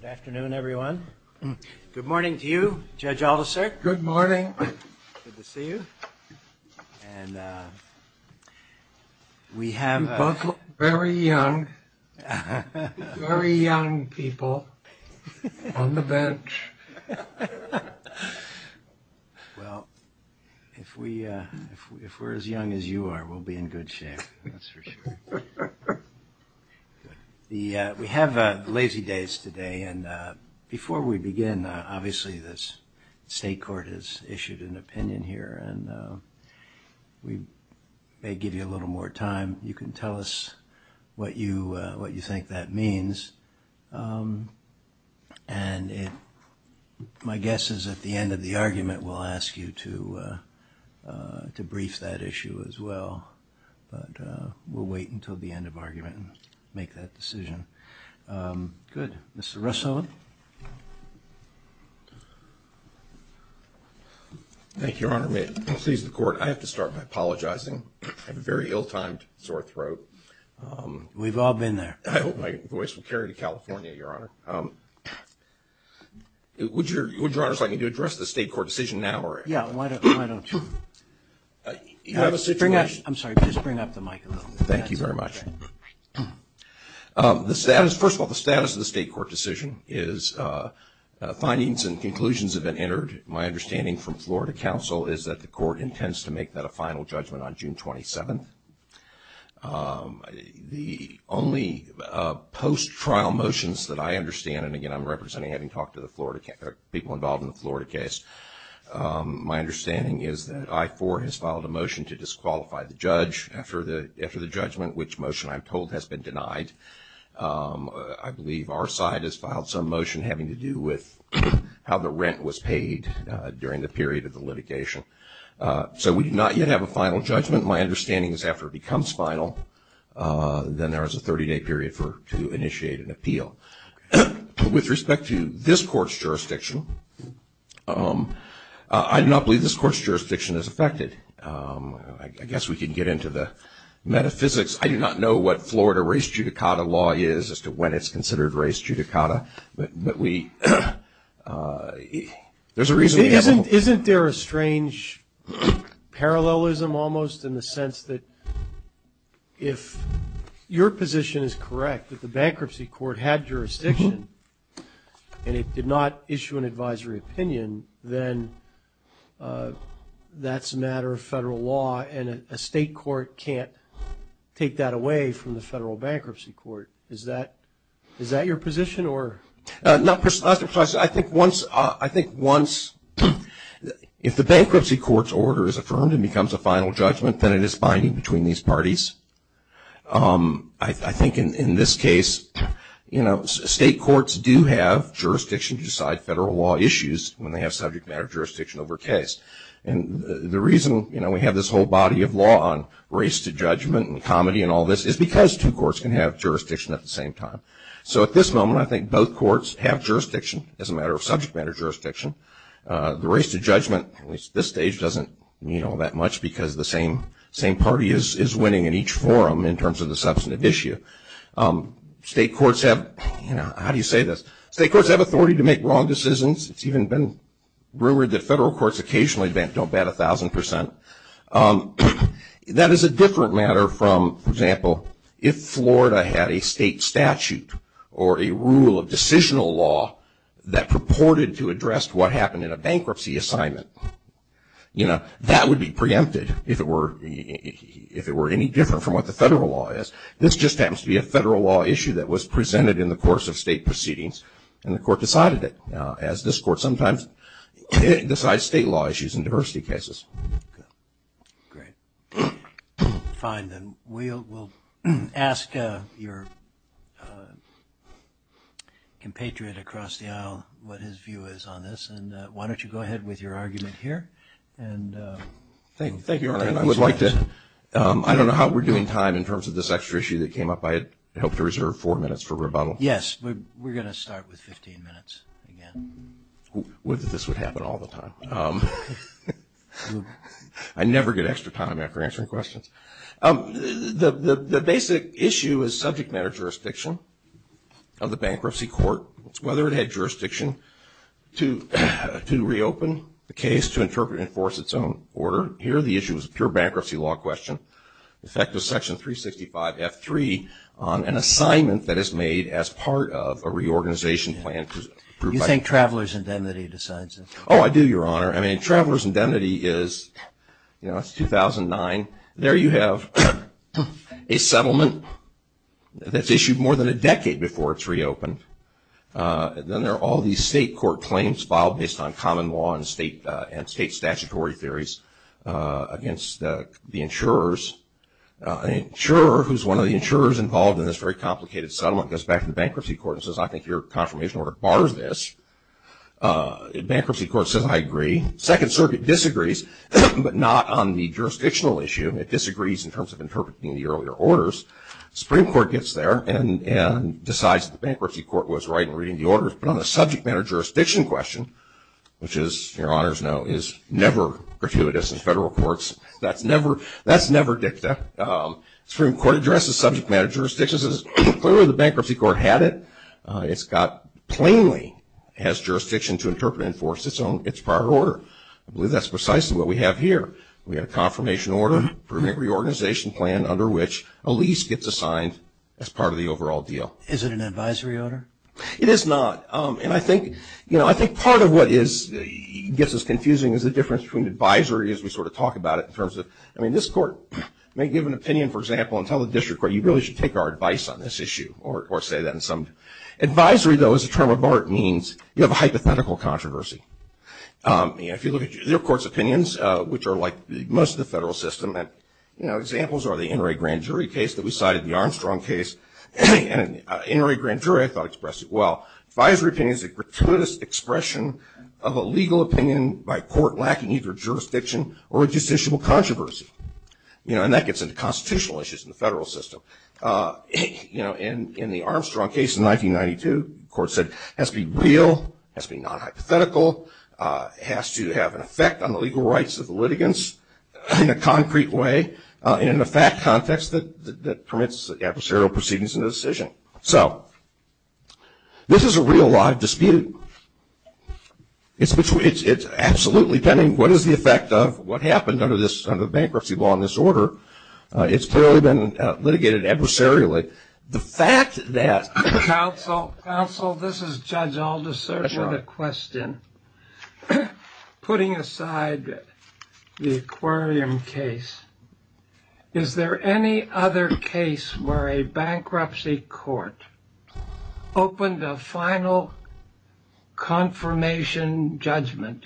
Good afternoon, everyone. Good morning to you, Judge Aldiserk. Good morning. Good to see you. And we have... You're both very young, very young people on the bench. Well, if we're as young as you are, we'll be in good shape, that's for sure. We have Lazy Days today, and before we begin, obviously the state court has issued an opinion here, and we may give you a little more time. You can tell us what you think that means. And my guess is at the end of the argument, we'll ask you to brief that issue as well. But we'll wait until the end of argument and make that decision. Good. Mr. Russo? Thank you, Your Honor. May it please the Court, I have to start by apologizing. I have a very ill-timed sore throat. We've all been there. I hope my voice will carry to California, Your Honor. Would Your Honor like me to address the state court decision now? Yeah, why don't you? You have a situation? I'm sorry, just bring up the mic a little bit. Thank you very much. First of all, the status of the state court decision is findings and conclusions have been entered. My understanding from Florida counsel is that the court intends to make that a final judgment on June 27th. The only post-trial motions that I understand, and again I'm representing people involved in the Florida case, my understanding is that I4 has filed a motion to disqualify the judge after the judgment, which motion I'm told has been denied. I believe our side has filed some motion having to do with how the rent was paid during the period of the litigation. So we do not yet have a final judgment. My understanding is after it becomes final, then there is a 30-day period to initiate an appeal. With respect to this court's jurisdiction, I do not believe this court's jurisdiction is affected. I guess we could get into the metaphysics. I do not know what Florida race judicata law is as to when it's considered race judicata, but we, there's a reason. Isn't there a strange parallelism almost in the sense that if your position is that if a state court had jurisdiction and it did not issue an advisory opinion, then that's a matter of federal law, and a state court can't take that away from the federal bankruptcy court. Is that your position? I think once, if the bankruptcy court's order is affirmed and becomes a final judgment, then it is binding between these parties. I think in this case, you know, state courts do have jurisdiction to decide federal law issues when they have subject matter jurisdiction over case. And the reason, you know, we have this whole body of law on race to judgment and comedy and all this is because two courts can have jurisdiction at the same time. So at this moment, I think both courts have jurisdiction as a matter of subject matter jurisdiction. The race to judgment, at least at this stage, doesn't mean all that much because the same party is winning in each forum in terms of the substantive issue. State courts have, you know, how do you say this? State courts have authority to make wrong decisions. It's even been rumored that federal courts occasionally don't bet 1,000 percent. That is a different matter from, for example, if Florida had a state statute or a rule of decisional law that purported to address what happened in a bankruptcy assignment. You know, that would be preempted if it were any different from what the federal law is. This just happens to be a federal law issue that was presented in the course of state proceedings and the court decided it, as this court sometimes decides state law issues in diversity cases. Great. Fine. Then we'll ask your compatriot across the aisle what his view is on this. And why don't you go ahead with your argument here. Thank you, Your Honor. I don't know how we're doing time in terms of this extra issue that came up. I had hoped to reserve four minutes for rebuttal. Yes, we're going to start with 15 minutes again. This would happen all the time. I never get extra time after answering questions. The basic issue is subject matter jurisdiction of the bankruptcy court, whether it had jurisdiction to reopen the case to interpret and enforce its own order. Here the issue is a pure bankruptcy law question. In fact, there's section 365 F3 on an assignment that is made as part of a reorganization plan. You think Traveler's Indemnity decides it? Oh, I do, Your Honor. I mean, Traveler's Indemnity is, you know, it's 2009. There you have a settlement that's issued more than a decade before it's reopened. Then there are all these state court claims filed based on common law and state statutory theories against the insurers. An insurer who's one of the insurers involved in this very complicated settlement goes back to the bankruptcy court and says, I think your confirmation order bars this. Bankruptcy court says, I agree. Second circuit disagrees, but not on the jurisdictional issue. It disagrees in terms of interpreting the earlier orders. Supreme Court gets there and decides the bankruptcy court was right in reading the orders. But on the subject matter jurisdiction question, which, as Your Honors know, is never gratuitous in federal courts, that's never dicta. Supreme Court addresses subject matter jurisdictions. Clearly the bankruptcy court had it. It's got plainly has jurisdiction to interpret and enforce its prior order. I believe that's precisely what we have here. We have a confirmation order, permanent reorganization plan, under which a lease gets assigned as part of the overall deal. Is it an advisory order? It is not. And I think, you know, I think part of what gets us confusing is the difference between advisory as we sort of talk about it in terms of, I mean, this court may give an opinion, for example, and tell the district court, you really should take our advice on this issue or say that in some advisory, though, as a term of art means you have a hypothetical controversy. If you look at your court's opinions, which are like most of the federal system, you know, examples are the Inouye grand jury case that we cited, the Armstrong case. Inouye grand jury, I thought, expressed it well. Advisory opinion is a gratuitous expression of a legal opinion by court lacking either jurisdiction or a justiciable controversy. You know, and that gets into constitutional issues in the federal system. You know, in the Armstrong case in 1992, the court said it has to be real, has to be non-hypothetical, has to have an effect on the legal rights of the litigants in a concrete way, and in a fact context that permits adversarial proceedings in the decision. So this is a real, live dispute. It's absolutely pending what is the effect of what happened under the bankruptcy law in this order. It's clearly been litigated adversarially. The fact that. Counsel, counsel, this is Judge Alderson with a question. Putting aside the aquarium case, is there any other case where a bankruptcy court opened a final confirmation judgment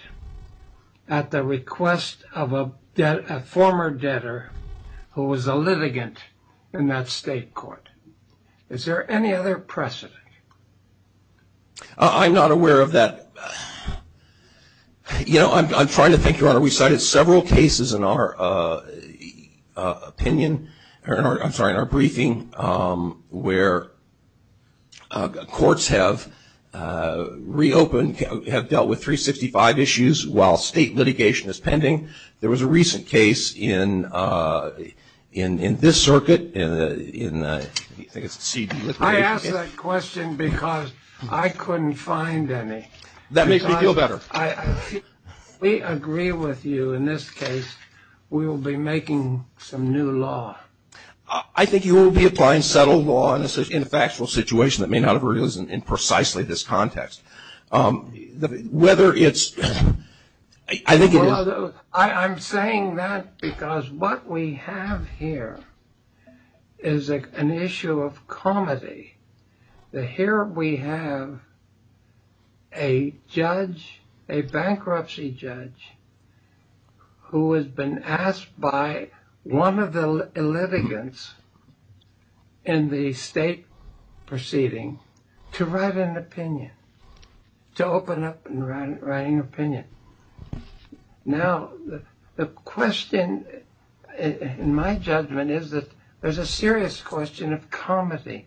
at the request of a former debtor who was a litigant in that state court? Is there any other precedent? I'm not aware of that. You know, I'm trying to think, Your Honor, we cited several cases in our opinion, I'm sorry, in our briefing, where courts have reopened, have dealt with 365 issues while state litigation is pending. There was a recent case in this circuit. I asked that question because I couldn't find any. That makes me feel better. We agree with you in this case. We will be making some new law. I think you will be applying settled law in a factual situation that may not have arisen in precisely this context. Whether it's, I think it is. I'm saying that because what we have here is an issue of comedy. Here we have a judge, a bankruptcy judge, who has been asked by one of the litigants in the state proceeding to write an opinion. To open up and write an opinion. Now, the question, in my judgment, is that there's a serious question of comedy.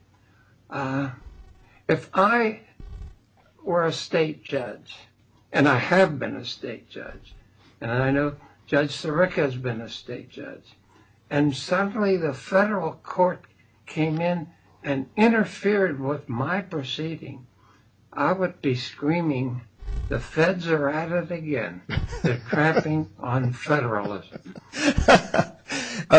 If I were a state judge, and I have been a state judge, and I know Judge Sirica has been a state judge, and suddenly the federal court came in and interfered with my proceeding, I would be screaming, the feds are at it again. They're cramping on federalism.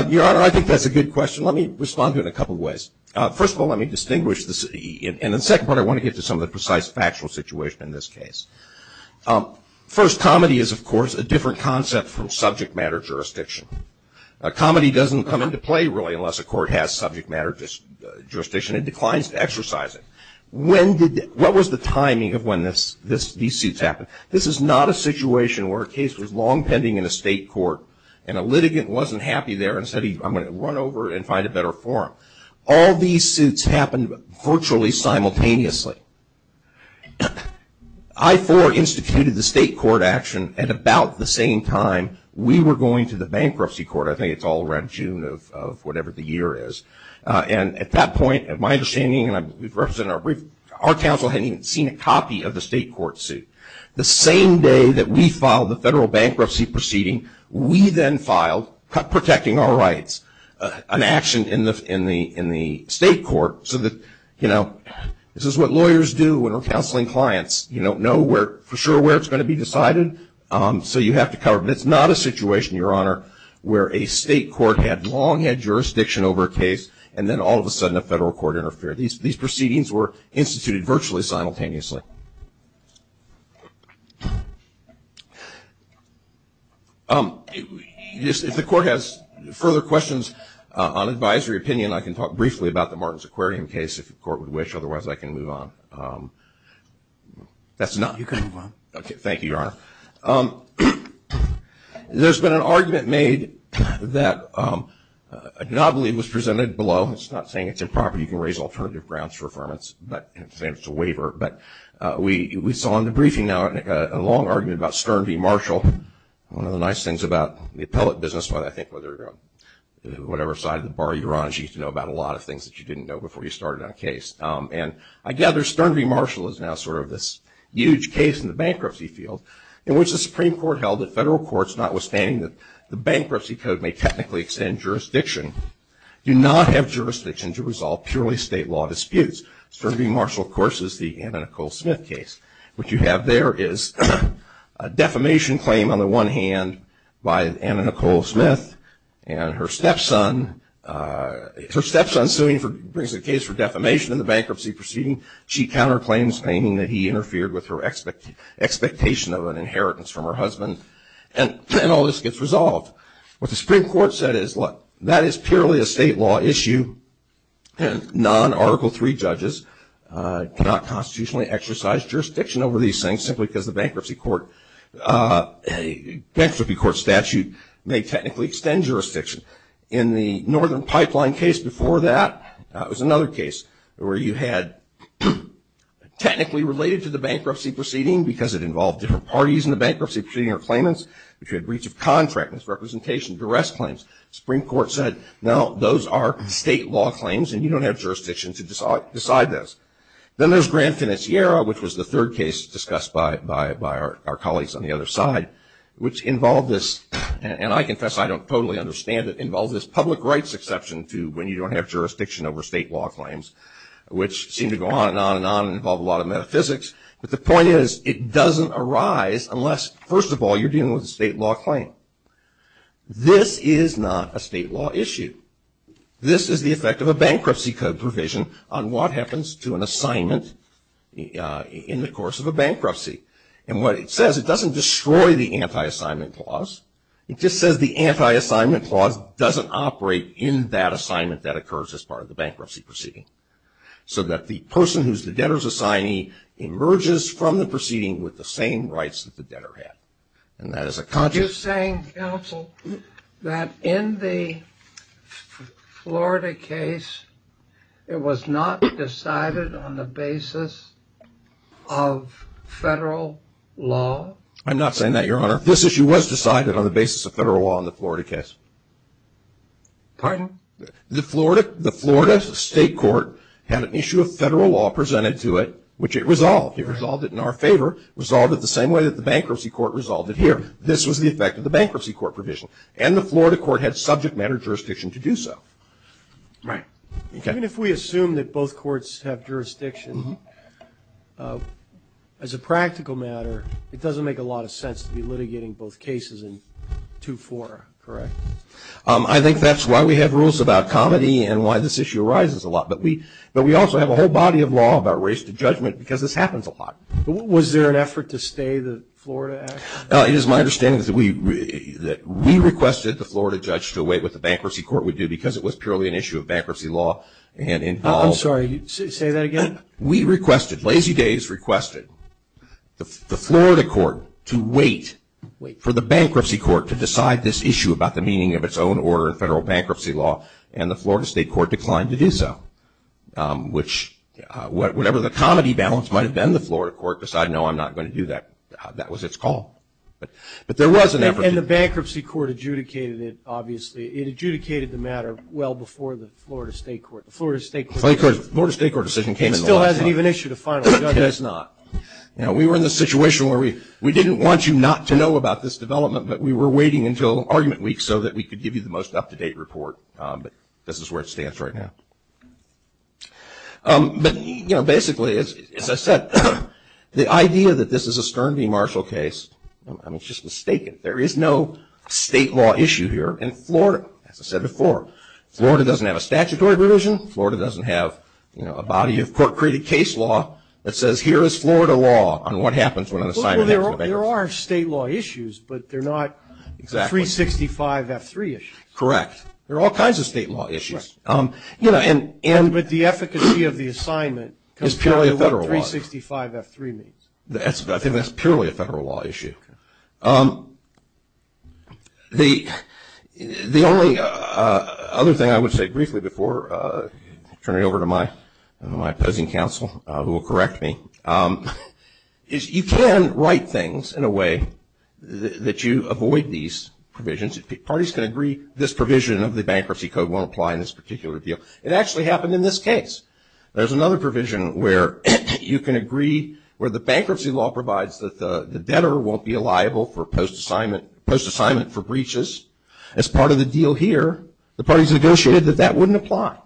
Your Honor, I think that's a good question. Let me respond to it in a couple of ways. First of all, let me distinguish. And the second part, I want to get to some of the precise factual situation in this case. First, comedy is, of course, a different concept from subject matter jurisdiction. Comedy doesn't come into play really unless a court has subject matter jurisdiction. It declines to exercise it. What was the timing of when these suits happened? This is not a situation where a case was long pending in a state court, and a litigant wasn't happy there and said, I'm going to run over and find a better forum. All these suits happened virtually simultaneously. I-4 instituted the state court action at about the same time we were going to the bankruptcy court. I think it's all around June of whatever the year is. And at that point, my understanding, and I've represented our brief, our counsel hadn't even seen a copy of the state court suit. The same day that we filed the federal bankruptcy proceeding, we then filed protecting our rights, an action in the state court so that, you know, this is what lawyers do when we're counseling clients. You don't know for sure where it's going to be decided, so you have to cover it. But it's not a situation, Your Honor, where a state court had long had jurisdiction over a case, and then all of a sudden a federal court interfered. These proceedings were instituted virtually simultaneously. If the court has further questions on advisory opinion, I can talk briefly about the Martins Aquarium case if the court would wish. Otherwise, I can move on. That's enough. You can move on. Okay, thank you, Your Honor. There's been an argument made that I do not believe was presented below. It's not saying it's improper. You can raise alternative grounds for affirmance, but it's a waiver. But we saw in the briefing now a long argument about Stern v. Marshall, one of the nice things about the appellate business, but I think whatever side of the bar you're on, you need to know about a lot of things that you didn't know before you started on a case. And I gather Stern v. Marshall is now sort of this huge case in the bankruptcy field in which the Supreme Court held that federal courts, notwithstanding that the bankruptcy code may technically extend jurisdiction, do not have jurisdiction to resolve purely state law disputes. Stern v. Marshall, of course, is the Anna Nicole Smith case. What you have there is a defamation claim on the one hand by Anna Nicole Smith and her stepson. Her stepson brings a case for defamation in the bankruptcy proceeding. She counterclaims, claiming that he interfered with her expectation of an inheritance from her husband. And all this gets resolved. What the Supreme Court said is, look, that is purely a state law issue. Non-Article III judges cannot constitutionally exercise jurisdiction over these things simply because the bankruptcy court statute may technically extend jurisdiction. In the Northern Pipeline case before that, it was another case where you had technically related to the bankruptcy proceeding because it involved different parties in the bankruptcy proceeding or claimants, which had breach of contract, misrepresentation, duress claims. The Supreme Court said, no, those are state law claims, and you don't have jurisdiction to decide those. Then there's Grand Financiera, which was the third case discussed by our colleagues on the other side, which involved this, and I confess I don't totally understand it, involved this public rights exception to when you don't have jurisdiction over state law claims, which seem to go on and on and on and involve a lot of metaphysics. But the point is, it doesn't arise unless, first of all, you're dealing with a state law claim. This is not a state law issue. This is the effect of a bankruptcy provision on what happens to an assignment in the course of a bankruptcy. And what it says, it doesn't destroy the anti-assignment clause. It just says the anti-assignment clause doesn't operate in that assignment that occurs as part of the bankruptcy proceeding, so that the person who's the debtor's assignee emerges from the proceeding with the same rights that the debtor had. Are you saying, counsel, that in the Florida case, it was not decided on the basis of federal law? I'm not saying that, Your Honor. This issue was decided on the basis of federal law in the Florida case. Pardon? The Florida State Court had an issue of federal law presented to it, which it resolved. It resolved it in our favor, resolved it the same way that the bankruptcy court resolved it here. This was the effect of the bankruptcy court provision. And the Florida court had subject matter jurisdiction to do so. Right. Even if we assume that both courts have jurisdiction, as a practical matter, it doesn't make a lot of sense to be litigating both cases in 2-4, correct? I think that's why we have rules about comedy and why this issue arises a lot. But we also have a whole body of law about race to judgment because this happens a lot. Was there an effort to stay the Florida Act? It is my understanding that we requested the Florida judge to await what the bankruptcy court would do because it was purely an issue of bankruptcy law. I'm sorry. Say that again? We requested, Lazy Days requested, the Florida court to wait for the bankruptcy court to decide this issue about the meaning of its own order in federal bankruptcy law, and the Florida state court declined to do so. Which, whatever the comedy balance might have been, the Florida court decided, no, I'm not going to do that. That was its call. But there was an effort. And the bankruptcy court adjudicated it, obviously. It adjudicated the matter well before the Florida state court. The Florida state court decision came in the last month. It still hasn't even issued a final judgment. It has not. We were in the situation where we didn't want you not to know about this development, but we were waiting until argument week so that we could give you the most up-to-date report. But this is where it stands right now. But, you know, basically, as I said, the idea that this is a Stern v. Marshall case, I mean, it's just mistaken. There is no state law issue here in Florida, as I said before. Florida doesn't have a statutory provision. Florida doesn't have, you know, a body of court-created case law that says, here is Florida law on what happens when an assignment happens. Well, there are state law issues, but they're not 365 F3 issues. Correct. There are all kinds of state law issues. But the efficacy of the assignment comes down to what 365 F3 means. I think that's purely a federal law issue. The only other thing I would say briefly before turning it over to my opposing counsel, who will correct me, is you can write things in a way that you avoid these provisions. Parties can agree this provision of the bankruptcy code won't apply in this particular deal. It actually happened in this case. There's another provision where you can agree where the bankruptcy law provides that the debtor won't be liable for post-assignment for breaches. As part of the deal here, the parties negotiated that that wouldn't apply,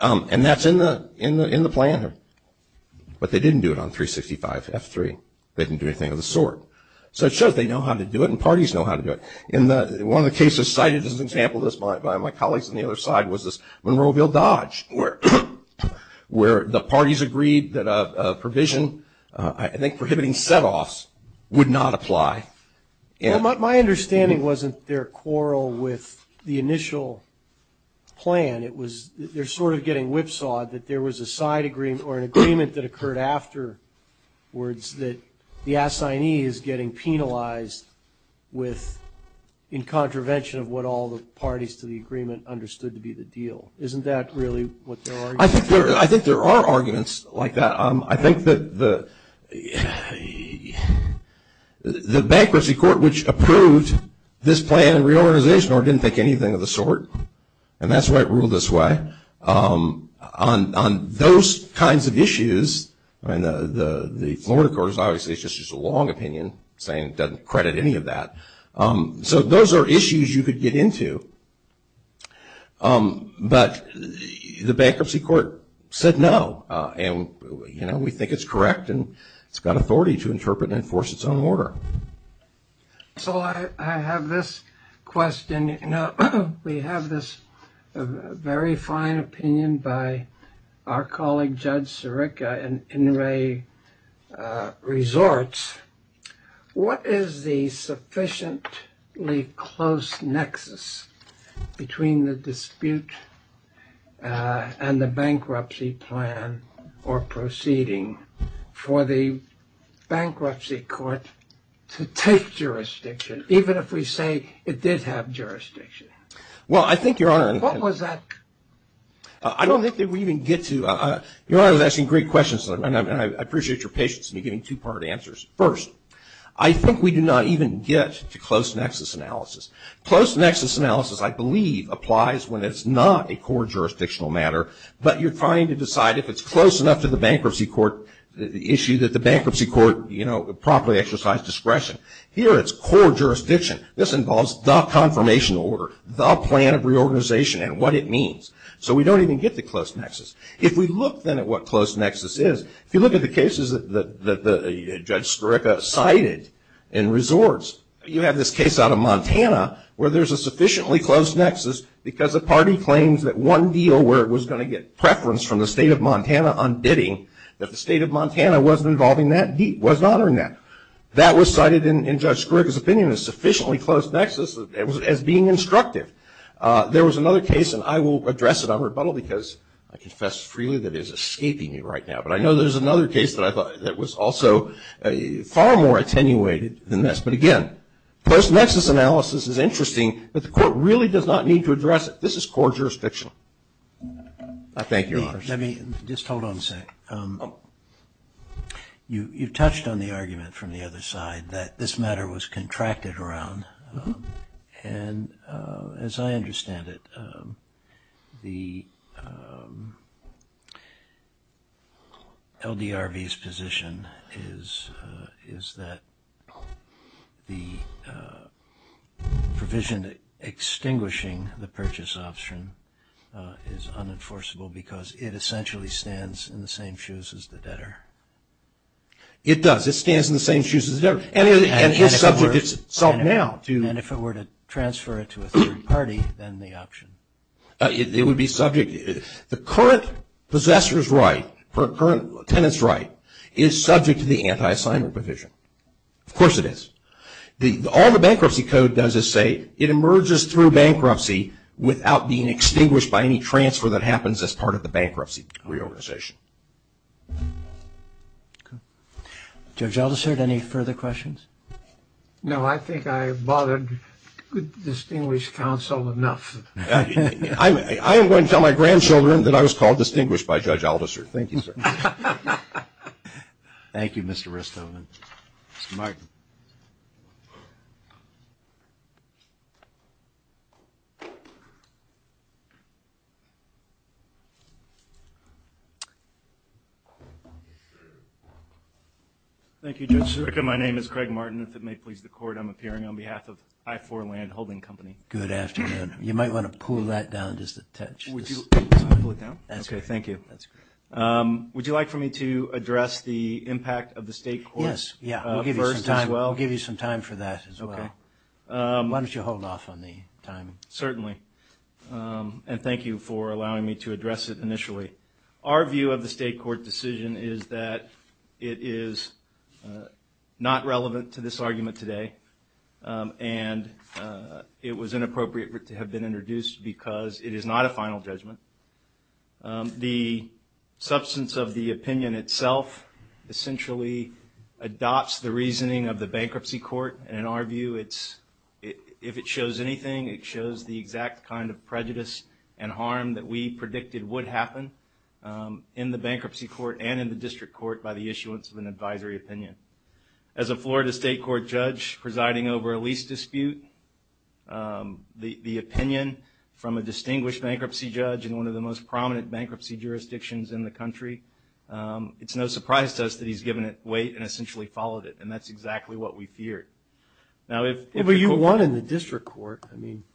and that's in the plan. But they didn't do it on 365 F3. They didn't do anything of the sort. So it shows they know how to do it, and parties know how to do it. One of the cases cited as an example by my colleagues on the other side was this Monroeville Dodge, where the parties agreed that a provision, I think prohibiting set-offs, would not apply. My understanding wasn't their quarrel with the initial plan. It was they're sort of getting whipsawed that there was a side agreement or an agreement that occurred afterwards that the assignee is getting penalized with, in contravention of what all the parties to the agreement understood to be the deal. Isn't that really what their argument is? I think there are arguments like that. I think that the bankruptcy court, which approved this plan and reorganization, didn't think anything of the sort, and that's why it ruled this way. On those kinds of issues, the Florida court is obviously just a long opinion, saying it doesn't credit any of that. So those are issues you could get into. But the bankruptcy court said no, and we think it's correct, and it's got authority to interpret and enforce its own order. So I have this question. We have this very fine opinion by our colleague Judge Sirica in Inouye Resorts. What is the sufficiently close nexus between the dispute and the bankruptcy plan or proceeding for the bankruptcy court to take jurisdiction, even if we say it did have jurisdiction? Well, I think, Your Honor. What was that? I don't think that we even get to. Your Honor is asking great questions, and I appreciate your patience in giving two-part answers. First, I think we do not even get to close nexus analysis. Close nexus analysis, I believe, applies when it's not a core jurisdictional matter, but you're trying to decide if it's close enough to the bankruptcy court issue that the bankruptcy court, you know, properly exercise discretion. Here it's core jurisdiction. This involves the confirmation order, the plan of reorganization, and what it means. So we don't even get to close nexus. If we look, then, at what close nexus is, if you look at the cases that Judge Sirica cited in resorts, you have this case out of Montana where there's a sufficiently close nexus because the party claims that one deal where it was going to get preference from the state of Montana on bidding, that the state of Montana wasn't involving that, wasn't honoring that. That was cited in Judge Sirica's opinion as sufficiently close nexus as being instructive. There was another case, and I will address it on rebuttal because I confess freely that it is escaping me right now, but I know there's another case that was also far more attenuated than this. But, again, close nexus analysis is interesting, but the court really does not need to address it. This is core jurisdiction. I thank your honors. Let me just hold on a second. You touched on the argument from the other side that this matter was contracted around, and as I understand it, the LDRV's position is that the provision extinguishing the purchase option is unenforceable because it essentially stands in the same shoes as the debtor. It does. It stands in the same shoes as the debtor. And if it were to transfer it to a third party, then the option. It would be subject, the current possessor's right, the current tenant's right is subject to the anti-assignment provision. Of course it is. All the bankruptcy code does is say it emerges through bankruptcy without being extinguished by any transfer that happens as part of the bankruptcy reorganization. Judge Aldisert, any further questions? No, I think I have bothered distinguished counsel enough. I am going to tell my grandchildren that I was called distinguished by Judge Aldisert. Thank you, sir. Thank you, Mr. Ristovan. Thank you, Judge Sirica. My name is Craig Martin. If it may please the court, I'm appearing on behalf of I4 Landholding Company. Good afternoon. You might want to pull that down just a touch. Okay, thank you. Would you like for me to address the impact of the state court? Yes, we'll give you some time for that as well. Why don't you hold off on the timing? Certainly, and thank you for allowing me to address it initially. Our view of the state court decision is that it is not relevant to this argument today, and it was inappropriate to have been introduced because it is not a final judgment. The substance of the opinion itself essentially adopts the reasoning of the bankruptcy court, and in our view, if it shows anything, it shows the exact kind of prejudice and harm that we predicted would happen. In the bankruptcy court and in the district court by the issuance of an advisory opinion. As a Florida state court judge presiding over a lease dispute, the opinion from a distinguished bankruptcy judge in one of the most prominent bankruptcy jurisdictions in the country, it's no surprise to us that he's given it weight and essentially followed it, and that's exactly what we feared. But you won in the district court. Couldn't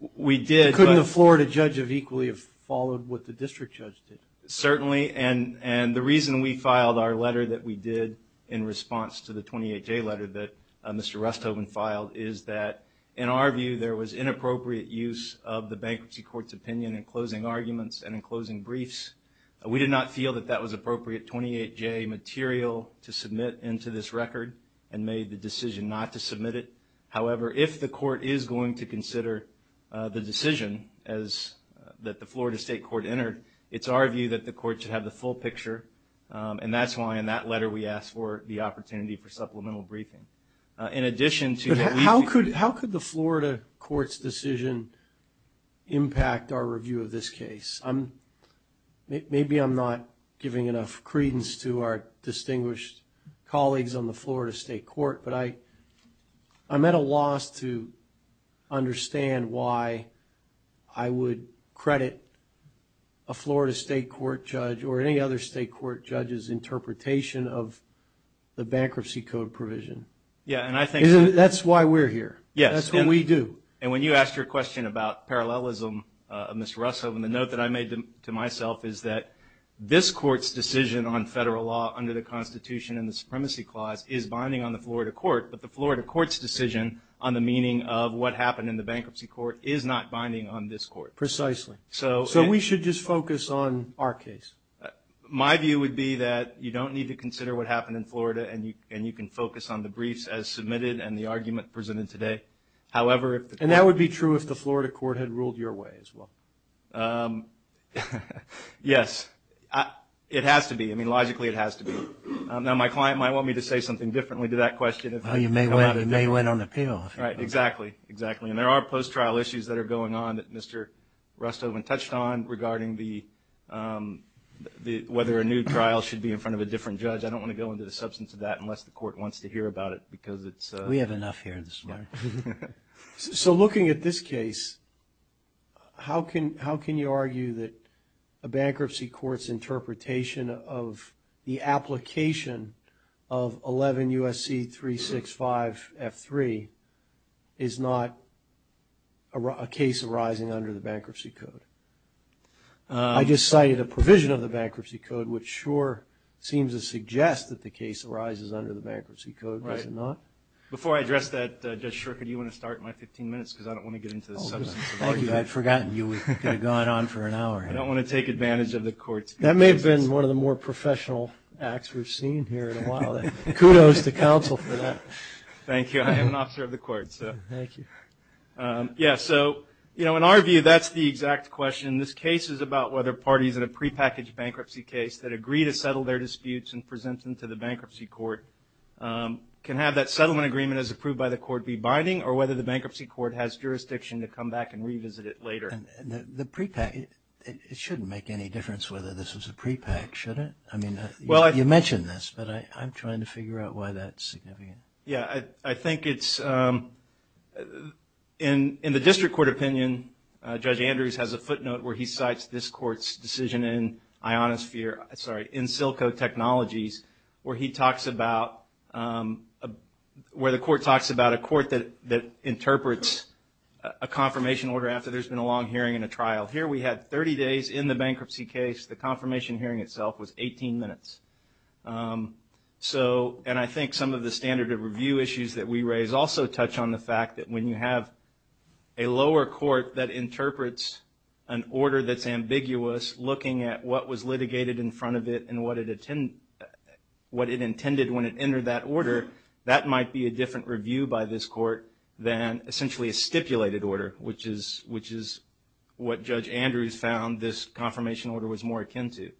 a Florida judge equally have followed what the district judge did? Certainly, and the reason we filed our letter that we did in response to the 28J letter that Mr. Rusthoven filed is that in our view, there was inappropriate use of the bankruptcy court's opinion in closing arguments and in closing briefs. We did not feel that that was appropriate 28J material to submit into this record and made the decision not to submit it. However, if the court is going to consider the decision that the Florida state court entered, it's our view that the court should have the full picture, and that's why in that letter we asked for the opportunity for supplemental briefing. But how could the Florida court's decision impact our review of this case? Maybe I'm not giving enough credence to our distinguished colleagues on the Florida state court, but I'm at a loss to understand why I would credit a Florida state court judge or any other state court judge's interpretation of the bankruptcy code provision. That's why we're here. That's what we do. And when you asked your question about parallelism, Mr. Rusthoven, the note that I made to myself is that this court's decision on federal law under the Constitution and the Supremacy Clause is binding on the Florida court, but the Florida court's decision on the meaning of what happened in the bankruptcy court is not binding on this court. Precisely. So we should just focus on our case. My view would be that you don't need to consider what happened in Florida, and you can focus on the briefs as submitted and the argument presented today. And that would be true if the Florida court had ruled your way as well. Yes. It has to be. I mean, logically it has to be. Now, my client might want me to say something differently to that question. Well, you may want an appeal. Exactly. And there are post-trial issues that are going on that Mr. Rusthoven touched on regarding whether a new trial should be in front of a different judge. I don't want to go into the substance of that unless the court wants to hear about it, because it's a... We have enough here this morning. So looking at this case, how can you argue that a bankruptcy court's interpretation of the application of 11 U.S.C. 365 F3 is not a case arising under the bankruptcy code? I just cited a provision of the bankruptcy code, which sure seems to suggest that the case arises under the bankruptcy code, does it not? Before I address that, Judge Shurka, do you want to start my 15 minutes, because I don't want to get into the substance of the argument. I don't want to take advantage of the court's... That may have been one of the more professional acts we've seen here in a while. Kudos to counsel for that. Thank you. I am an officer of the court. In our view, that's the exact question. This case is about whether parties in a prepackaged bankruptcy case that agree to settle their disputes and present them to the bankruptcy court can have that settlement agreement as approved by the court be binding, or whether the bankruptcy court has jurisdiction to come back and revisit it later. The prepackaged, it shouldn't make any difference whether this was a prepackaged, should it? You mentioned this, but I'm trying to figure out why that's significant. I think it's... In the district court opinion, Judge Andrews has a footnote where he cites this court's decision in InSilco Technologies, where he talks about... A confirmation order after there's been a long hearing and a trial. Here, we had 30 days in the bankruptcy case. The confirmation hearing itself was 18 minutes. I think some of the standard of review issues that we raise also touch on the fact that when you have a lower court that interprets an order that's ambiguous, looking at what was litigated in front of it and what it intended when it entered that order, that might be a different review by this court than, essentially, a standard of review. It's a stipulated order, which is what Judge Andrews found this confirmation order was more akin to.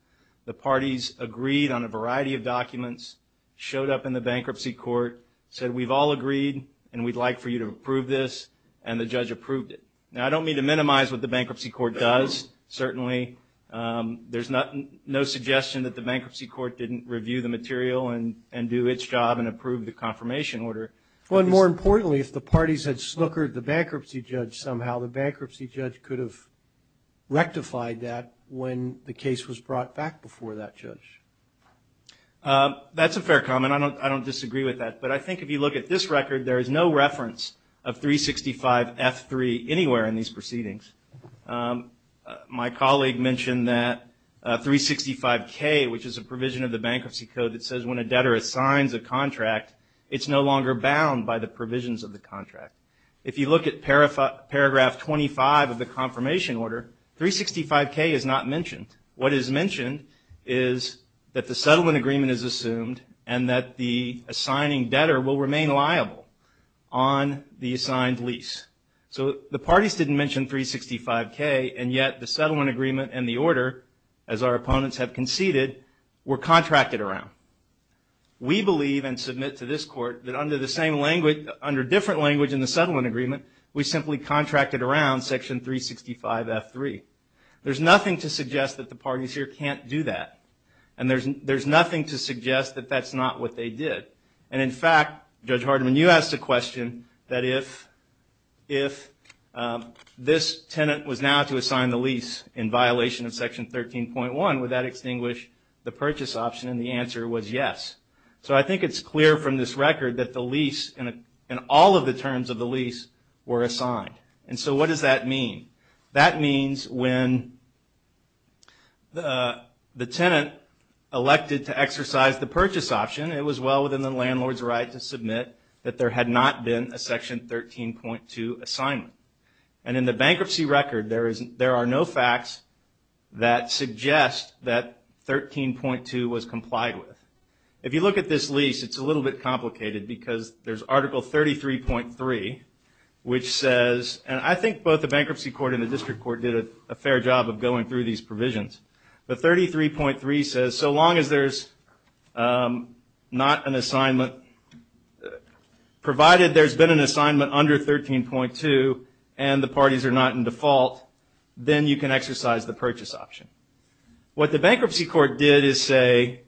The parties agreed on a variety of documents, showed up in the bankruptcy court, said, we've all agreed and we'd like for you to approve this, and the judge approved it. Now, I don't mean to minimize what the bankruptcy court does, certainly. There's no suggestion that the bankruptcy court didn't review the material and do its job and approve the confirmation order. Well, and more importantly, if the parties had snookered the bankruptcy judge somehow, the bankruptcy judge could have rectified that when the case was brought back before that judge. That's a fair comment. I don't disagree with that, but I think if you look at this record, there is no reference of 365F3 anywhere in these proceedings. My colleague mentioned that 365K, which is a provision of the bankruptcy code that says when a debtor assigns a contract, it's no longer bound by the provisions of the contract. If you look at paragraph 25 of the confirmation order, 365K is not mentioned. What is mentioned is that the settlement agreement is assumed, and that the assigning debtor will remain liable on the assigned lease. So the parties didn't mention 365K, and yet the settlement agreement and the order, as our opponents have conceded, were contracted around. We believe and submit to this court that under different language in the settlement agreement, we simply contracted around section 365F3. There's nothing to suggest that the parties here can't do that, and there's nothing to suggest that that's not what they did. And in fact, Judge Hardiman, you asked a question that if this tenant was now to assign the lease in violation of section 13.1, would that extinguish the purchase option, and the answer was yes. So I think it's clear from this record that the lease and all of the terms of the lease were assigned. And so what does that mean? That means when the tenant elected to exercise the purchase option, it was well within the landlord's right to submit that there had not been a section 13.2 assignment. And in the bankruptcy record, there are no facts that suggest that 13.2 was complied with. If you look at this lease, it's a little bit complicated because there's Article 33.3, which says, and I think both the bankruptcy court and the district court did a fair job of going through these provisions, but 33.3 says so long as there's not an assignment, provided there's been an assignment under 13.2 and the parties are not in default, then you can exercise the purchase option. What the bankruptcy court did is say,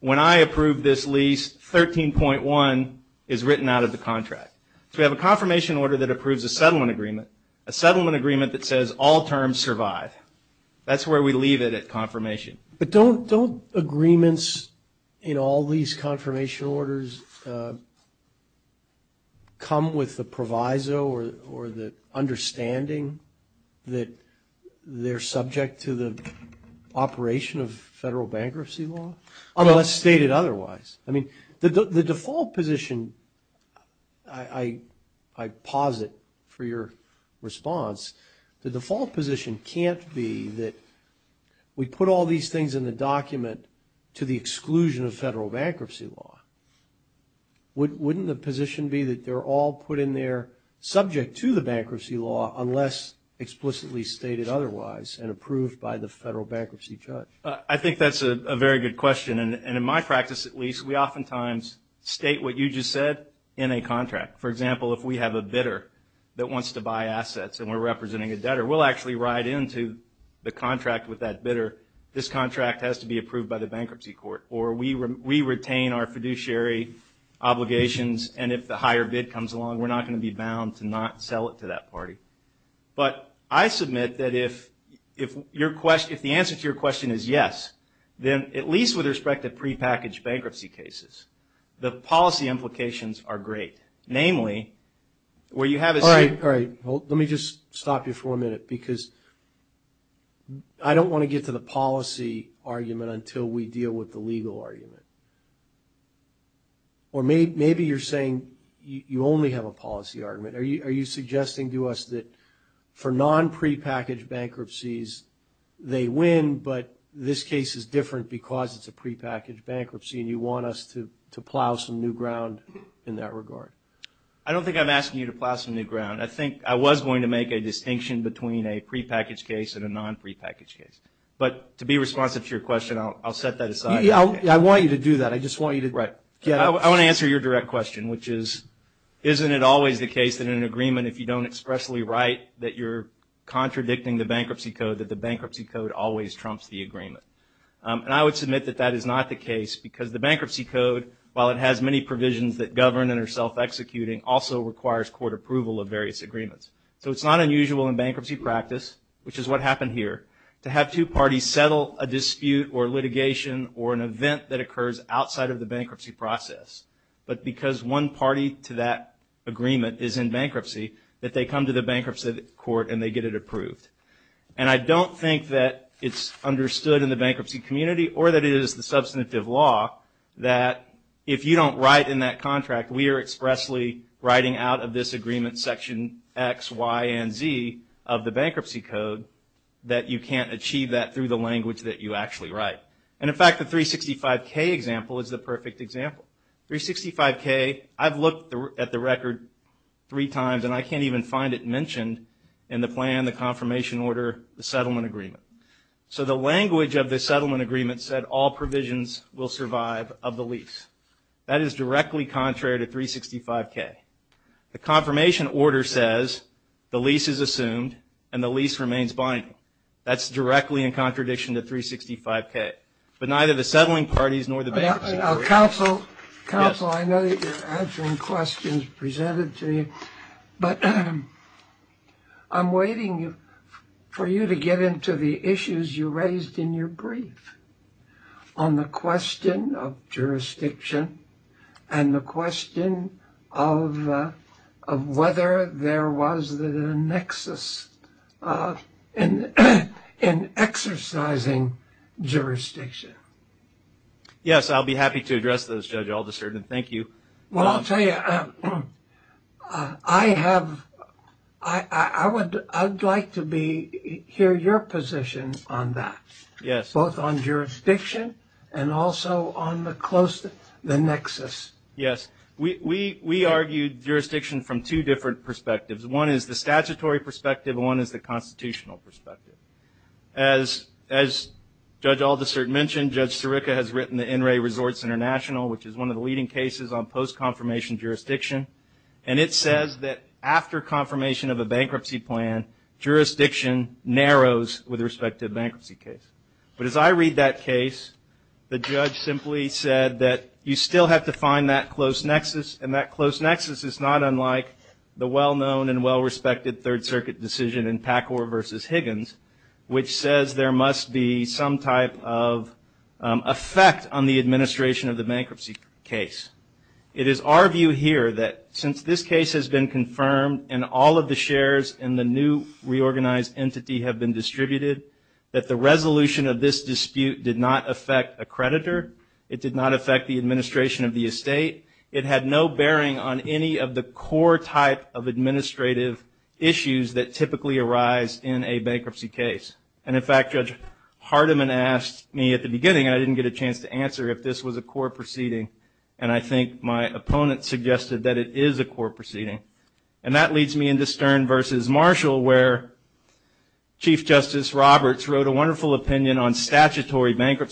when I approve this lease, 13.1 is written out of the contract. So we have a confirmation order that approves a settlement agreement, a settlement agreement that says all terms survive. That's where we leave it at confirmation. But don't agreements in all these confirmation orders come with the proviso or the understanding that they're subject to the operation of federal bankruptcy law, unless stated otherwise? I mean, the default position, I posit for your response, the default position can't be that we put all these things in the document to the exclusion of federal bankruptcy law. Wouldn't the position be that they're all put in there subject to the bankruptcy law unless explicitly stated otherwise and approved by the federal bankruptcy judge? I think that's a very good question. And in my practice, at least, we oftentimes state what you just said in a contract. For example, if we have a bidder that wants to buy assets and we're representing a debtor, we'll actually write into the contract with that bidder, this contract has to be approved by the bankruptcy court. Or we retain our fiduciary obligations, and if the higher bid comes along, we're not going to be bound to not sell it to that party. But I submit that if the answer to your question is yes, then at least with respect to prepackaged bankruptcy cases, the policy implications are great. Namely, where you have a... All right. Let me just stop you for a minute, because I don't want to get to the policy argument until we deal with the legal argument. Or maybe you're saying you only have a policy argument. Are you suggesting to us that for non-prepackaged bankruptcies, they win, but this case is different because it's a prepackaged bankruptcy and you want us to plow some new ground in that regard? I don't think I'm asking you to plow some new ground. I think I was going to make a distinction between a prepackaged case and a non-prepackaged case. But to be responsive to your question, I'll set that aside. I want you to do that. I just want you to get up... I want to answer your direct question, which is, isn't it always the case that in an agreement, if you don't expressly write that you're contradicting the bankruptcy code, that the bankruptcy code always trumps the agreement? And I would admit that that is not the case, because the bankruptcy code, while it has many provisions that govern and are self-executing, also requires court approval of various agreements. So it's not unusual in bankruptcy practice, which is what happened here, to have two parties settle a dispute or litigation or an event that occurs outside of the bankruptcy process. But because one party to that agreement is in bankruptcy, that they come to the bankruptcy court and they get it from the bankruptcy community, or that it is the substantive law that if you don't write in that contract, we are expressly writing out of this agreement section X, Y, and Z of the bankruptcy code, that you can't achieve that through the language that you actually write. And in fact, the 365K example is the perfect example. 365K, I've looked at the record three times, and I can't even find it mentioned in the plan, the confirmation order, the settlement agreement. So the language of the settlement agreement said all provisions will survive of the lease. That is directly contrary to 365K. The confirmation order says the lease is assumed and the lease remains binding. That's directly in contradiction to 365K. But neither the settling parties nor the bankruptcy... Counsel, I know that you're answering questions presented to you, but I'm waiting for you to get into the issues you raised in your brief on the question of jurisdiction and the question of whether there was a nexus in exercising jurisdiction. Yes, I'll be happy to address those, Judge Alderson, and thank you. Well, I'll tell you, I would like to hear your position on that, both on jurisdiction and also on the nexus. Yes, we argued jurisdiction from two different perspectives. One is the constitutional perspective. As Judge Alderson mentioned, Judge Sirica has written the NRA Resorts International, which is one of the leading cases on post-confirmation jurisdiction, and it says that after confirmation of a bankruptcy plan, jurisdiction narrows with respect to a bankruptcy case. But as I read that case, the judge simply said that you still have to find that close circuit decision in Packhor versus Higgins, which says there must be some type of effect on the administration of the bankruptcy case. It is our view here that since this case has been confirmed and all of the shares in the new reorganized entity have been distributed, that the resolution of this dispute did not affect a creditor, it did not affect the administration of the estate, it had no bearing on any of the core type of administrative issues that typically arise in a bankruptcy case. And in fact, Judge Hardiman asked me at the beginning, and I didn't get a chance to answer if this was a core proceeding, and I think my opponent suggested that it is a core proceeding. And that leads me into Stern versus Marshall, where Chief Justice Roberts wrote a wonderful opinion on statutory in that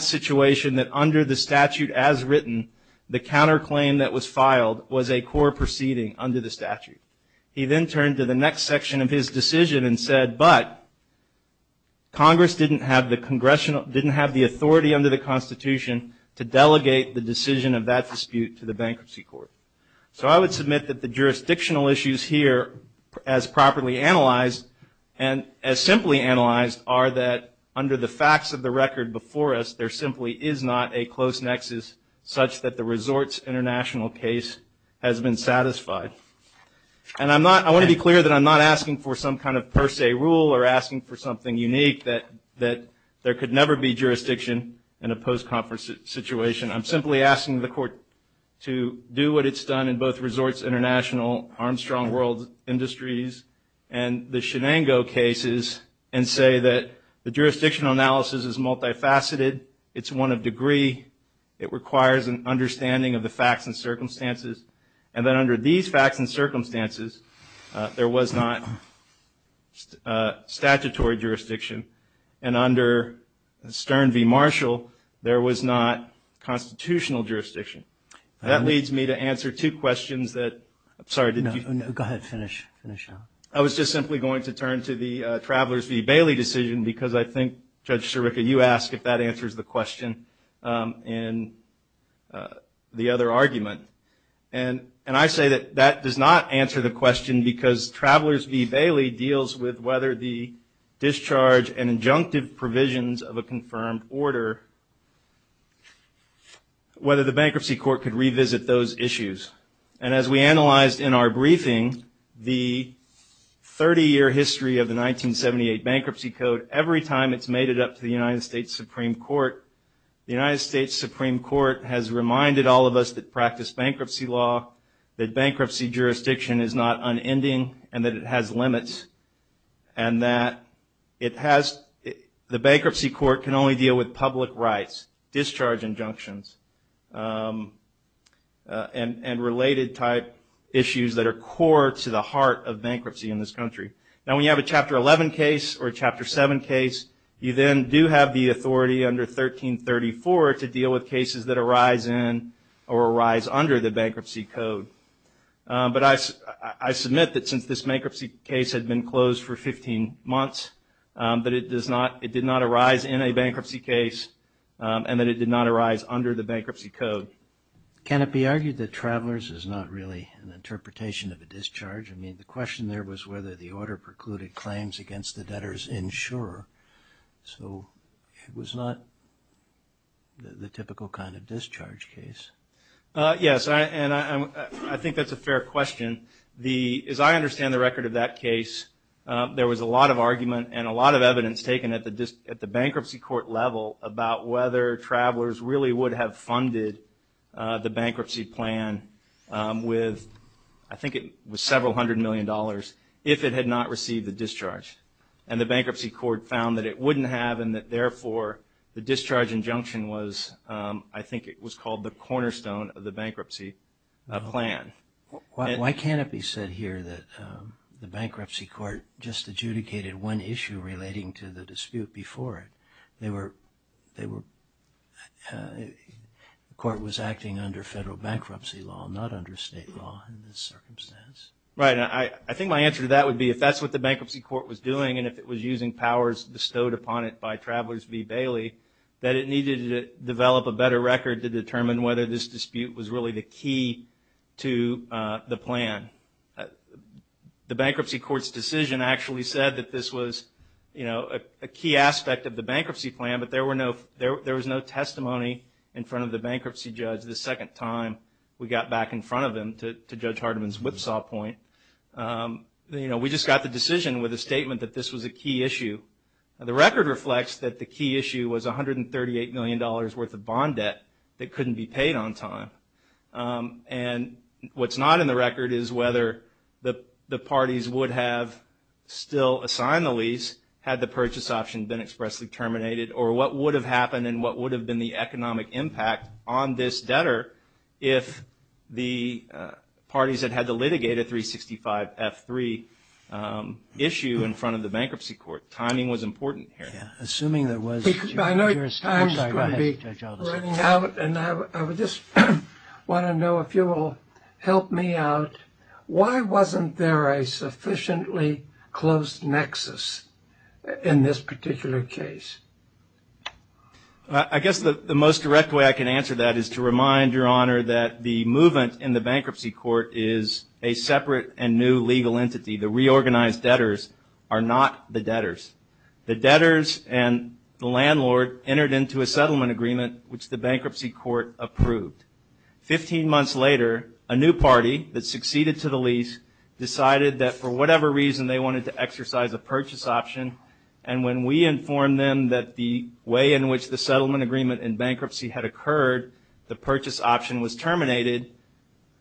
situation that under the statute as written, the counterclaim that was filed was a core proceeding under the statute. He then turned to the next section of his decision and said, but Congress didn't have the authority under the Constitution to delegate the decision of that dispute to the bankruptcy court. So I would submit that the jurisdictional issues here, as properly analyzed, and as simply analyzed, are that under the facts of the record before us, there simply is not a close nexus such that the Resorts International case has been satisfied. And I want to be clear that I'm not asking for some kind of per se rule or asking for something unique that there could never be jurisdiction in a post-conference situation. I'm simply asking the court to do what it's done in both Resorts International, Armstrong World Industries, and the Shenango cases, and say that the jurisdictional analysis is multifaceted. It's one of degree. It requires an understanding of the facts and circumstances. And that under these facts and circumstances, there was not statutory jurisdiction. And under Stern v. Marshall, there was not constitutional jurisdiction. That leads me to answer two questions that... I'm sorry, did you... No, go ahead. Finish. Finish now. I was just simply going to turn to the Travelers v. Bailey decision because I think, Judge Sirica, you ask if that answers the question in the other argument. And I say that that does not answer the question because Travelers v. Bailey deals with whether the discharge and injunctive provisions of a confirmed order, whether the bankruptcy court could revisit those issues. And as we analyzed in our briefing, the 30-year history of the 1978 Bankruptcy Code, every time it's made it up to the United States Supreme Court, the United States Supreme Court has reminded all of us that practice bankruptcy law, that bankruptcy jurisdiction is not unending, and that it has limits, and that it has... the bankruptcy court can only deal with public rights, discharge injunctions, and related type issues that are core to the heart of bankruptcy in this country. Now, when you have a Chapter 11 case or a Chapter 7 case, you then do have the authority under 1334 to deal with cases that arise in or arise under the Bankruptcy Code. But I submit that since this bankruptcy case had been closed for 15 months, that it did not arise in a bankruptcy case, and that it did not arise under the Bankruptcy Code. Can it be argued that Travelers is not really an interpretation of a discharge? I mean, the question there was whether the order precluded claims against the debtor's insurer, so it was not the typical kind of discharge case. Yes, and I think that's a fair question. As I understand the record of that case, there was a lot of argument and a lot of evidence taken at the bankruptcy court level about whether Travelers really would have funded the bankruptcy plan with, I think it was several hundred million dollars, if it had not received the discharge. And the bankruptcy court found that it wouldn't have, and that therefore the discharge injunction was, I think it was called the cornerstone of the bankruptcy plan. Why can't it be said here that the bankruptcy court just adjudicated one issue relating to the dispute before it? They were, the court was acting under federal bankruptcy law, not under state law in this circumstance. Right, and I think my answer to that would be, if that's what the bankruptcy court was doing, and if it was using powers bestowed upon it by Travelers v. Bailey, that it needed to develop a better record to determine whether this dispute was really the key to the plan. The bankruptcy court's decision actually said that this was a key aspect of the bankruptcy judge the second time we got back in front of him, to Judge Hardeman's whipsaw point. You know, we just got the decision with a statement that this was a key issue. The record reflects that the key issue was 138 million dollars worth of bond debt that couldn't be paid on time. And what's not in the record is whether the parties would have still assigned the lease had the purchase option been expressly terminated, or what would have happened and what would have been the economic impact on this debtor if the parties had had to litigate a 365-F3 issue in front of the bankruptcy court. Timing was important here. Assuming there was... I would just want to know if you will help me out. Why wasn't there a sufficiently close nexus in this particular case? I guess the most direct way I can answer that is to remind Your Honor that the movement in the bankruptcy court is a separate and new legal entity. The reorganized debtors are not the debtors. The debtors and the landlord entered into a settlement agreement which the bankruptcy court approved. Fifteen months later, a new party that succeeded to the lease decided that for whatever reason they wanted to exercise a purchase option. And when we informed them that the way in which the settlement agreement in bankruptcy had occurred, the purchase option was terminated,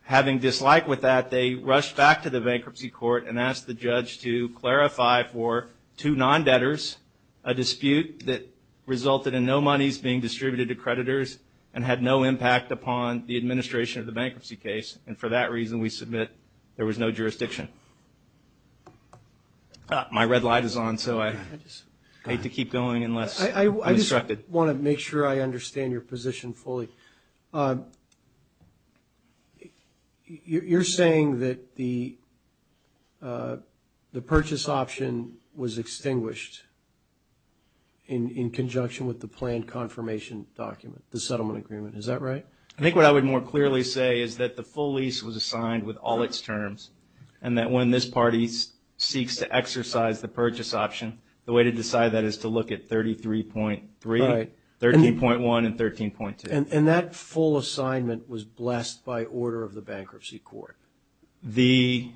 having dislike with that, they rushed back to the bankruptcy court and asked the judge to clarify for two non-debtors a dispute that resulted in no monies being distributed to creditors and had no impact upon the administration of the bankruptcy case. And for that reason, we submit there was no jurisdiction. My red light is on, so I hate to keep going unless I'm instructed. I just want to make sure I understand your position fully. You're saying that the purchase option was extinguished in conjunction with the planned confirmation document, the settlement agreement. Is that right? I think what I would more clearly say is that the full lease was assigned with all its terms and that when this party seeks to exercise the purchase option, the way to decide that is to look at 33.3, 13.1, and 13.2. And that full assignment was blessed by order of the bankruptcy court. We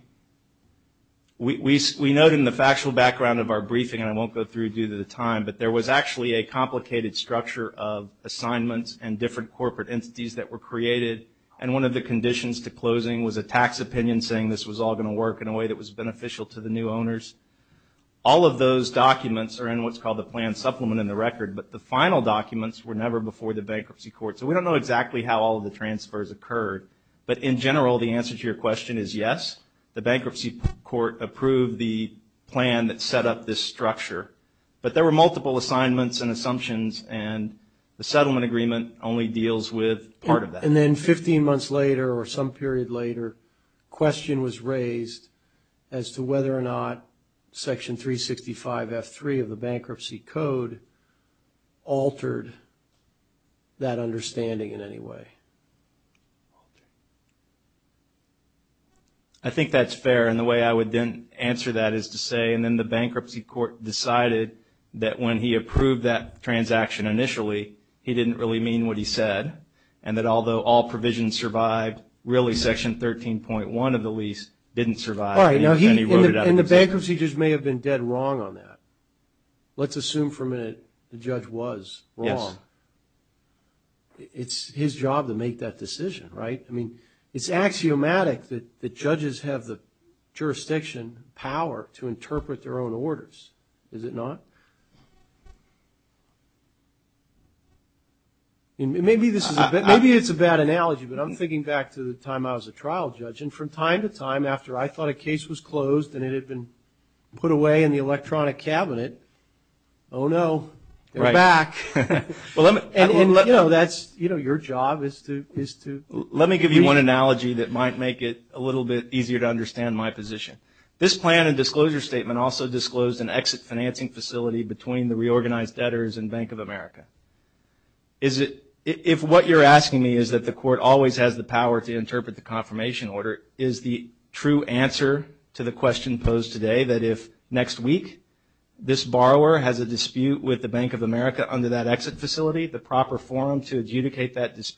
note in the factual background of our briefing, and I won't go through due to the time, but there was actually a complicated structure of assignments and different corporate entities that were created. And one of the conditions to closing was a tax opinion saying this was all going to work in a way that was beneficial to the new owners. All of those documents are in what's called the planned supplement in the record, but the final documents were never before the bankruptcy court. So we don't know exactly how all of the transfers occurred. But in general, the answer to your question is yes, the bankruptcy court approved the plan that set up this structure. But there were multiple assignments and assumptions and the settlement agreement only deals with part of that. And then 15 months later or some period later, question was raised as to whether or not Section 365 F3 of the bankruptcy code altered that understanding in any way. I think that's fair. And the way I would answer that is to say, and then the bankruptcy court decided that when he approved that transaction initially, he didn't really mean what he said. And that although all provisions survived, really Section 13.1 of the lease didn't survive. And he wrote it out. Let's assume for a minute the judge was wrong. It's his job to make that decision, right? I mean, it's axiomatic that judges have the jurisdiction power to interpret their own orders, is it not? Maybe it's a bad analogy, but I'm thinking back to the time I was a trial judge. And from time to time after I thought a case was closed and it had been put away in the electronic cabinet, oh no, they're back. And you know, your job is to... Let me give you one analogy that might make it a little bit easier to understand my position. This plan and disclosure statement also disclosed an exit financing facility between the reorganized debtors and Bank of America. If what you're asking me is that the court always has the power to interpret the confirmation order, is the true answer to the question posed today that if next week this borrower has a dispute with the Bank of America under that exit facility, the proper forum to adjudicate that please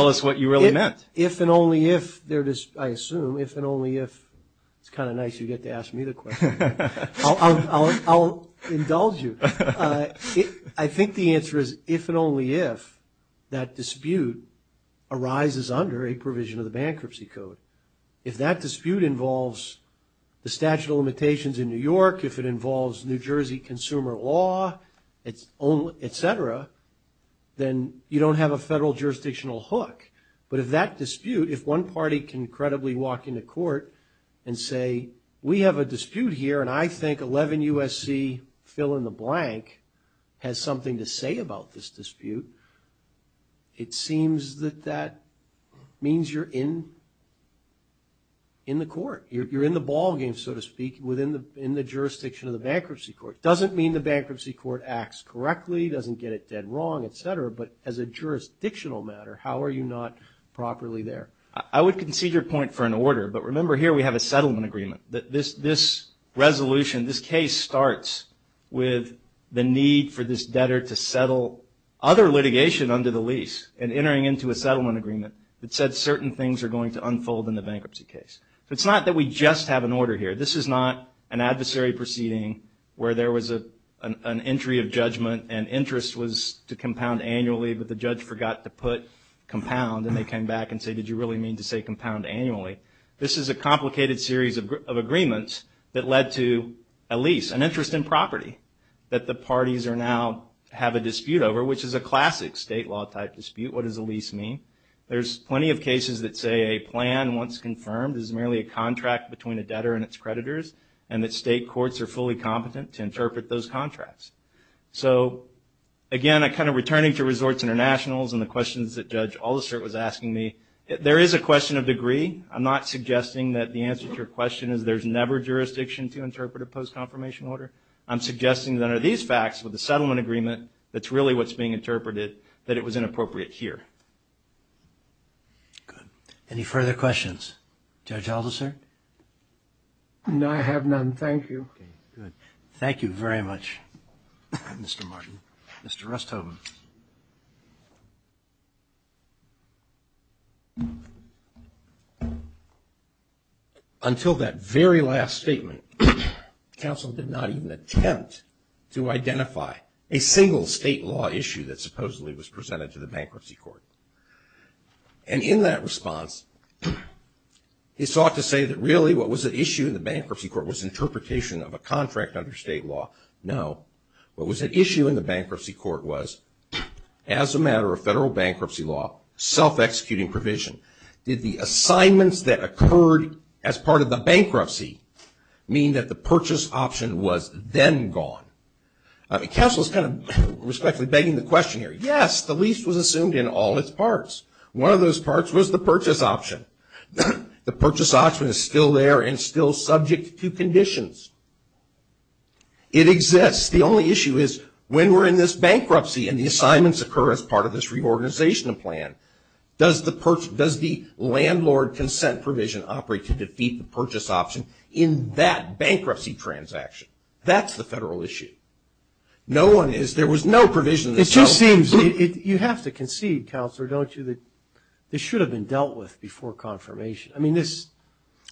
tell us what you really meant? It's kind of nice you get to ask me the question. I'll indulge you. I think the answer is if and only if that dispute arises under a provision of the bankruptcy code. If that dispute involves the statute of limitations in New York, if it involves New Jersey consumer law, et cetera, then you don't have a federal jurisdictional hook. But if that dispute, if one party can credibly walk into court and say, we have a dispute here and I think 11 USC fill in the blank has something to say about this dispute, it seems that that means you're in the court. You're in the ballgame, so to speak, within the jurisdiction of the bankruptcy court. It doesn't mean the bankruptcy court acts correctly, doesn't get it done wrong, et cetera, but as a jurisdictional matter, how are you not properly there? I would concede your point for an order, but remember here we have a settlement agreement. This resolution, this case starts with the need for this debtor to settle other litigation under the lease and entering into a settlement agreement that said certain things are going to unfold in the bankruptcy case. It's not that we just have an order here. This is not an adversary proceeding where there was an entry of judgment and interest was to compound annually, but the judge forgot to put compound and they came back and said, did you really mean to say compound annually? This is a complicated series of agreements that led to a lease, an interest in property that the parties are now have a dispute over, which is a classic state law type dispute. What does a lease mean? There's plenty of cases that say a plan, once confirmed, is merely a contract between a debtor and its creditors and that state courts are fully competent to interpret those contracts. Again, returning to Resorts International and the questions that Judge Allister was asking me, there is a question of degree. I'm not suggesting that the answer to your question is there's never jurisdiction to interpret a post-confirmation order. I'm suggesting that under these facts, with the settlement agreement, that's really what's being interpreted, that it was inappropriate here. Good. Any further questions? Judge Allister? I have none. Thank you. Thank you very much, Mr. Martin. Mr. Rusthoven. Until that very last statement, counsel did not even attempt to identify a single state law issue that supposedly was presented to the bankruptcy court. And in that response, he sought to say that really what was at issue in the bankruptcy court was interpretation of a contract under state law. No. What was at issue in the bankruptcy court was, as a matter of federal bankruptcy law, self-executing provision. Did the assignments that occurred as part of the bankruptcy mean that the purchase option was then gone? Counsel is kind of respectfully begging the question here. Yes, the lease was assumed in all its parts. One of those parts was the purchase option. The purchase option is still there and still subject to conditions. It exists. The only issue is, when we're in this bankruptcy and the assignments occur as part of this reorganization plan, does the landlord consent provision operate to defeat the purchase option in that bankruptcy transaction? That's the federal issue. There was no provision. It just seems you have to concede, Counselor, don't you, that this should have been dealt with before confirmation.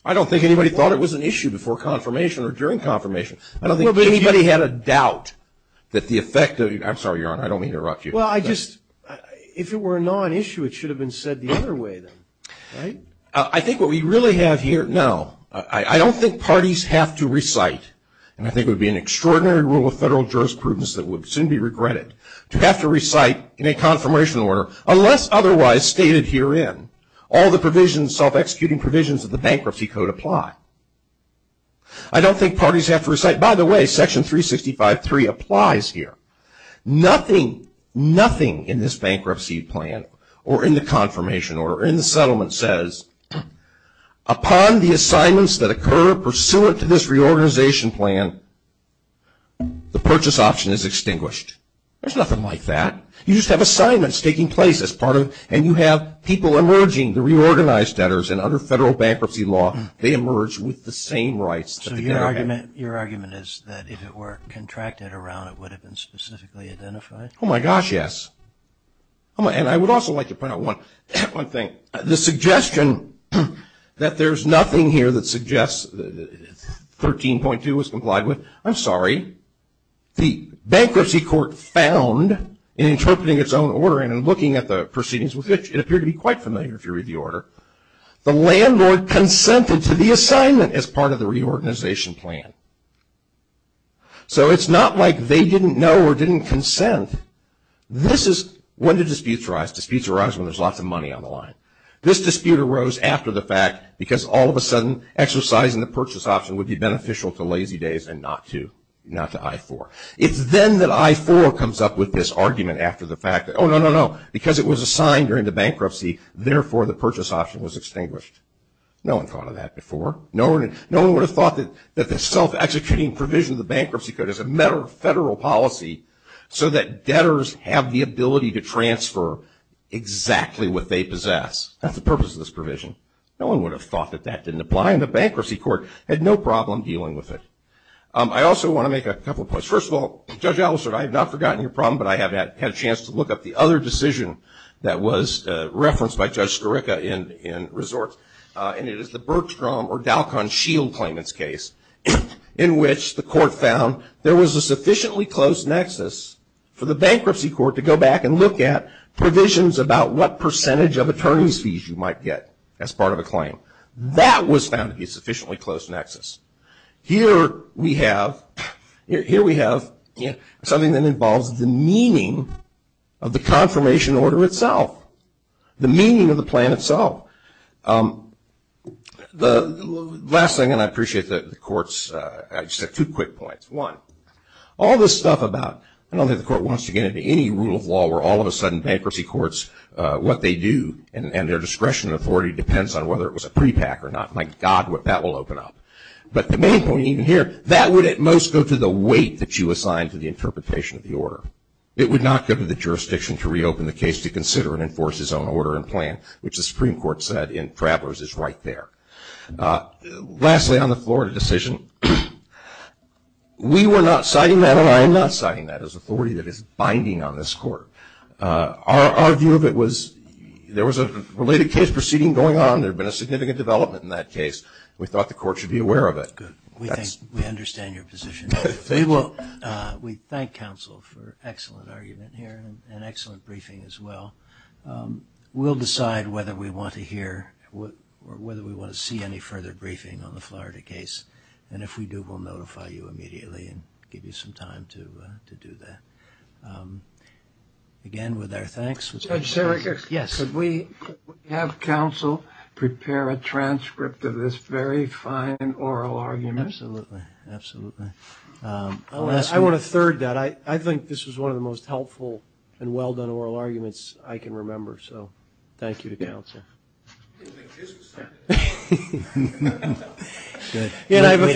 I don't think anybody thought it was an issue before confirmation or during confirmation. I don't think anybody had a doubt that the effect of, I'm sorry, Your Honor, I don't mean to interrupt you. If it were a non-issue, it should have been said the other way, then. I think what we really have here, no, I don't think parties have to recite, and I think it would be an extraordinary rule of federal jurisprudence that would soon be regretted, to have to recite in a confirmation order, unless otherwise stated herein, all the provisions, self-executing provisions of the Bankruptcy Code apply. I don't think parties have to recite, by the way, Section 365.3 applies here. Nothing, nothing in this bankruptcy plan or in the confirmation order or in the settlement says, upon the assignments that occur pursuant to this reorganization plan, the purchase option is extinguished. There's nothing like that. You just have assignments taking place as part of, and you have people emerging, the reorganized debtors, and under federal bankruptcy law, they emerge with the same rights. So your argument is that if it were contracted around, it would have been specifically identified? Oh, my gosh, yes. And I would also like to point out one thing. The suggestion that there's nothing here that suggests 13.2 was complied with, I'm sorry. The Bankruptcy Court found, in interpreting its own order and in looking at the proceedings, which it appeared to be quite familiar, if you read the order, the landlord consented to the assignment as part of the reorganization plan. So it's not like they didn't know or didn't consent. This is, when do disputes arise? Disputes arise when there's lots of money on the line. This dispute arose after the fact, because all of a sudden, exercising the purchase option would be beneficial to Lazy Days and not to I-4. It's then that I-4 comes up with this argument after the fact that, oh, no, no, no, because it was assigned during the bankruptcy, therefore, the purchase option was extinguished. No one thought of that before. No one would have thought that the self-executing provision of the Bankruptcy Code is a matter of federal policy so that debtors have the ability to transfer exactly what they possess. That's the purpose of this provision. No one would have thought that that didn't apply, and the Bankruptcy Court had no problem dealing with it. I also want to make a couple of points. First of all, Judge Alastair, I have not forgotten your problem, but I have had a chance to look up the other decision that was referenced by Judge Skarica in Resorts, and it is the Bergstrom or Dalkin-Shield claimant's case, in which the court found there was a sufficiently close nexus for the Bankruptcy Court to go back and look at provisions about what percentage of attorney's fees you might get as part of a claim. That was found to be a sufficiently close nexus. Here we have something that involves the meaning of the confirmation order itself, the meaning of the plan itself. The last thing, and I appreciate the court's, I just have two quick points. One, all this stuff about, I don't think the court wants to get into any rule of law where all of a sudden Bankruptcy Courts, what they do, and their discretion and authority depends on whether it was a prepack or not. My God, that will open up. But the main point even here, that would at most go to the weight that you assign to the interpretation of the order. It would not go to the jurisdiction to reopen the case to consider and enforce its own order and plan, which the Supreme Court said in Travelers is right there. Lastly, on the Florida decision, we were not citing that, and I am not citing that as authority that is binding on this court. Our view of it was there was a related case proceeding going on, and there had been a significant development in that case. We thought the court should be aware of it. We understand your position. We thank counsel for excellent argument here and excellent briefing as well. We'll decide whether we want to hear or whether we want to see any further briefing on the Florida case. And if we do, we'll notify you immediately and give you some time to do that. Again, with our thanks. Judge Serega, could we have counsel prepare a transcript of this very fine oral argument? Absolutely, absolutely. I want to third that. I think this was one of the most helpful and well-done oral arguments I can remember. So thank you to counsel. We'd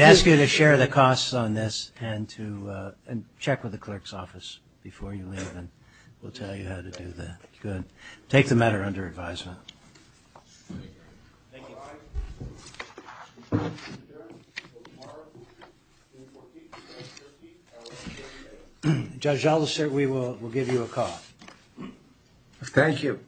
ask you to share the costs on this and check with the clerk's office before you leave, and we'll tell you how to do that. Good. Take the matter under advisement. Thank you. Judge Aldous, we will give you a call. Thank you.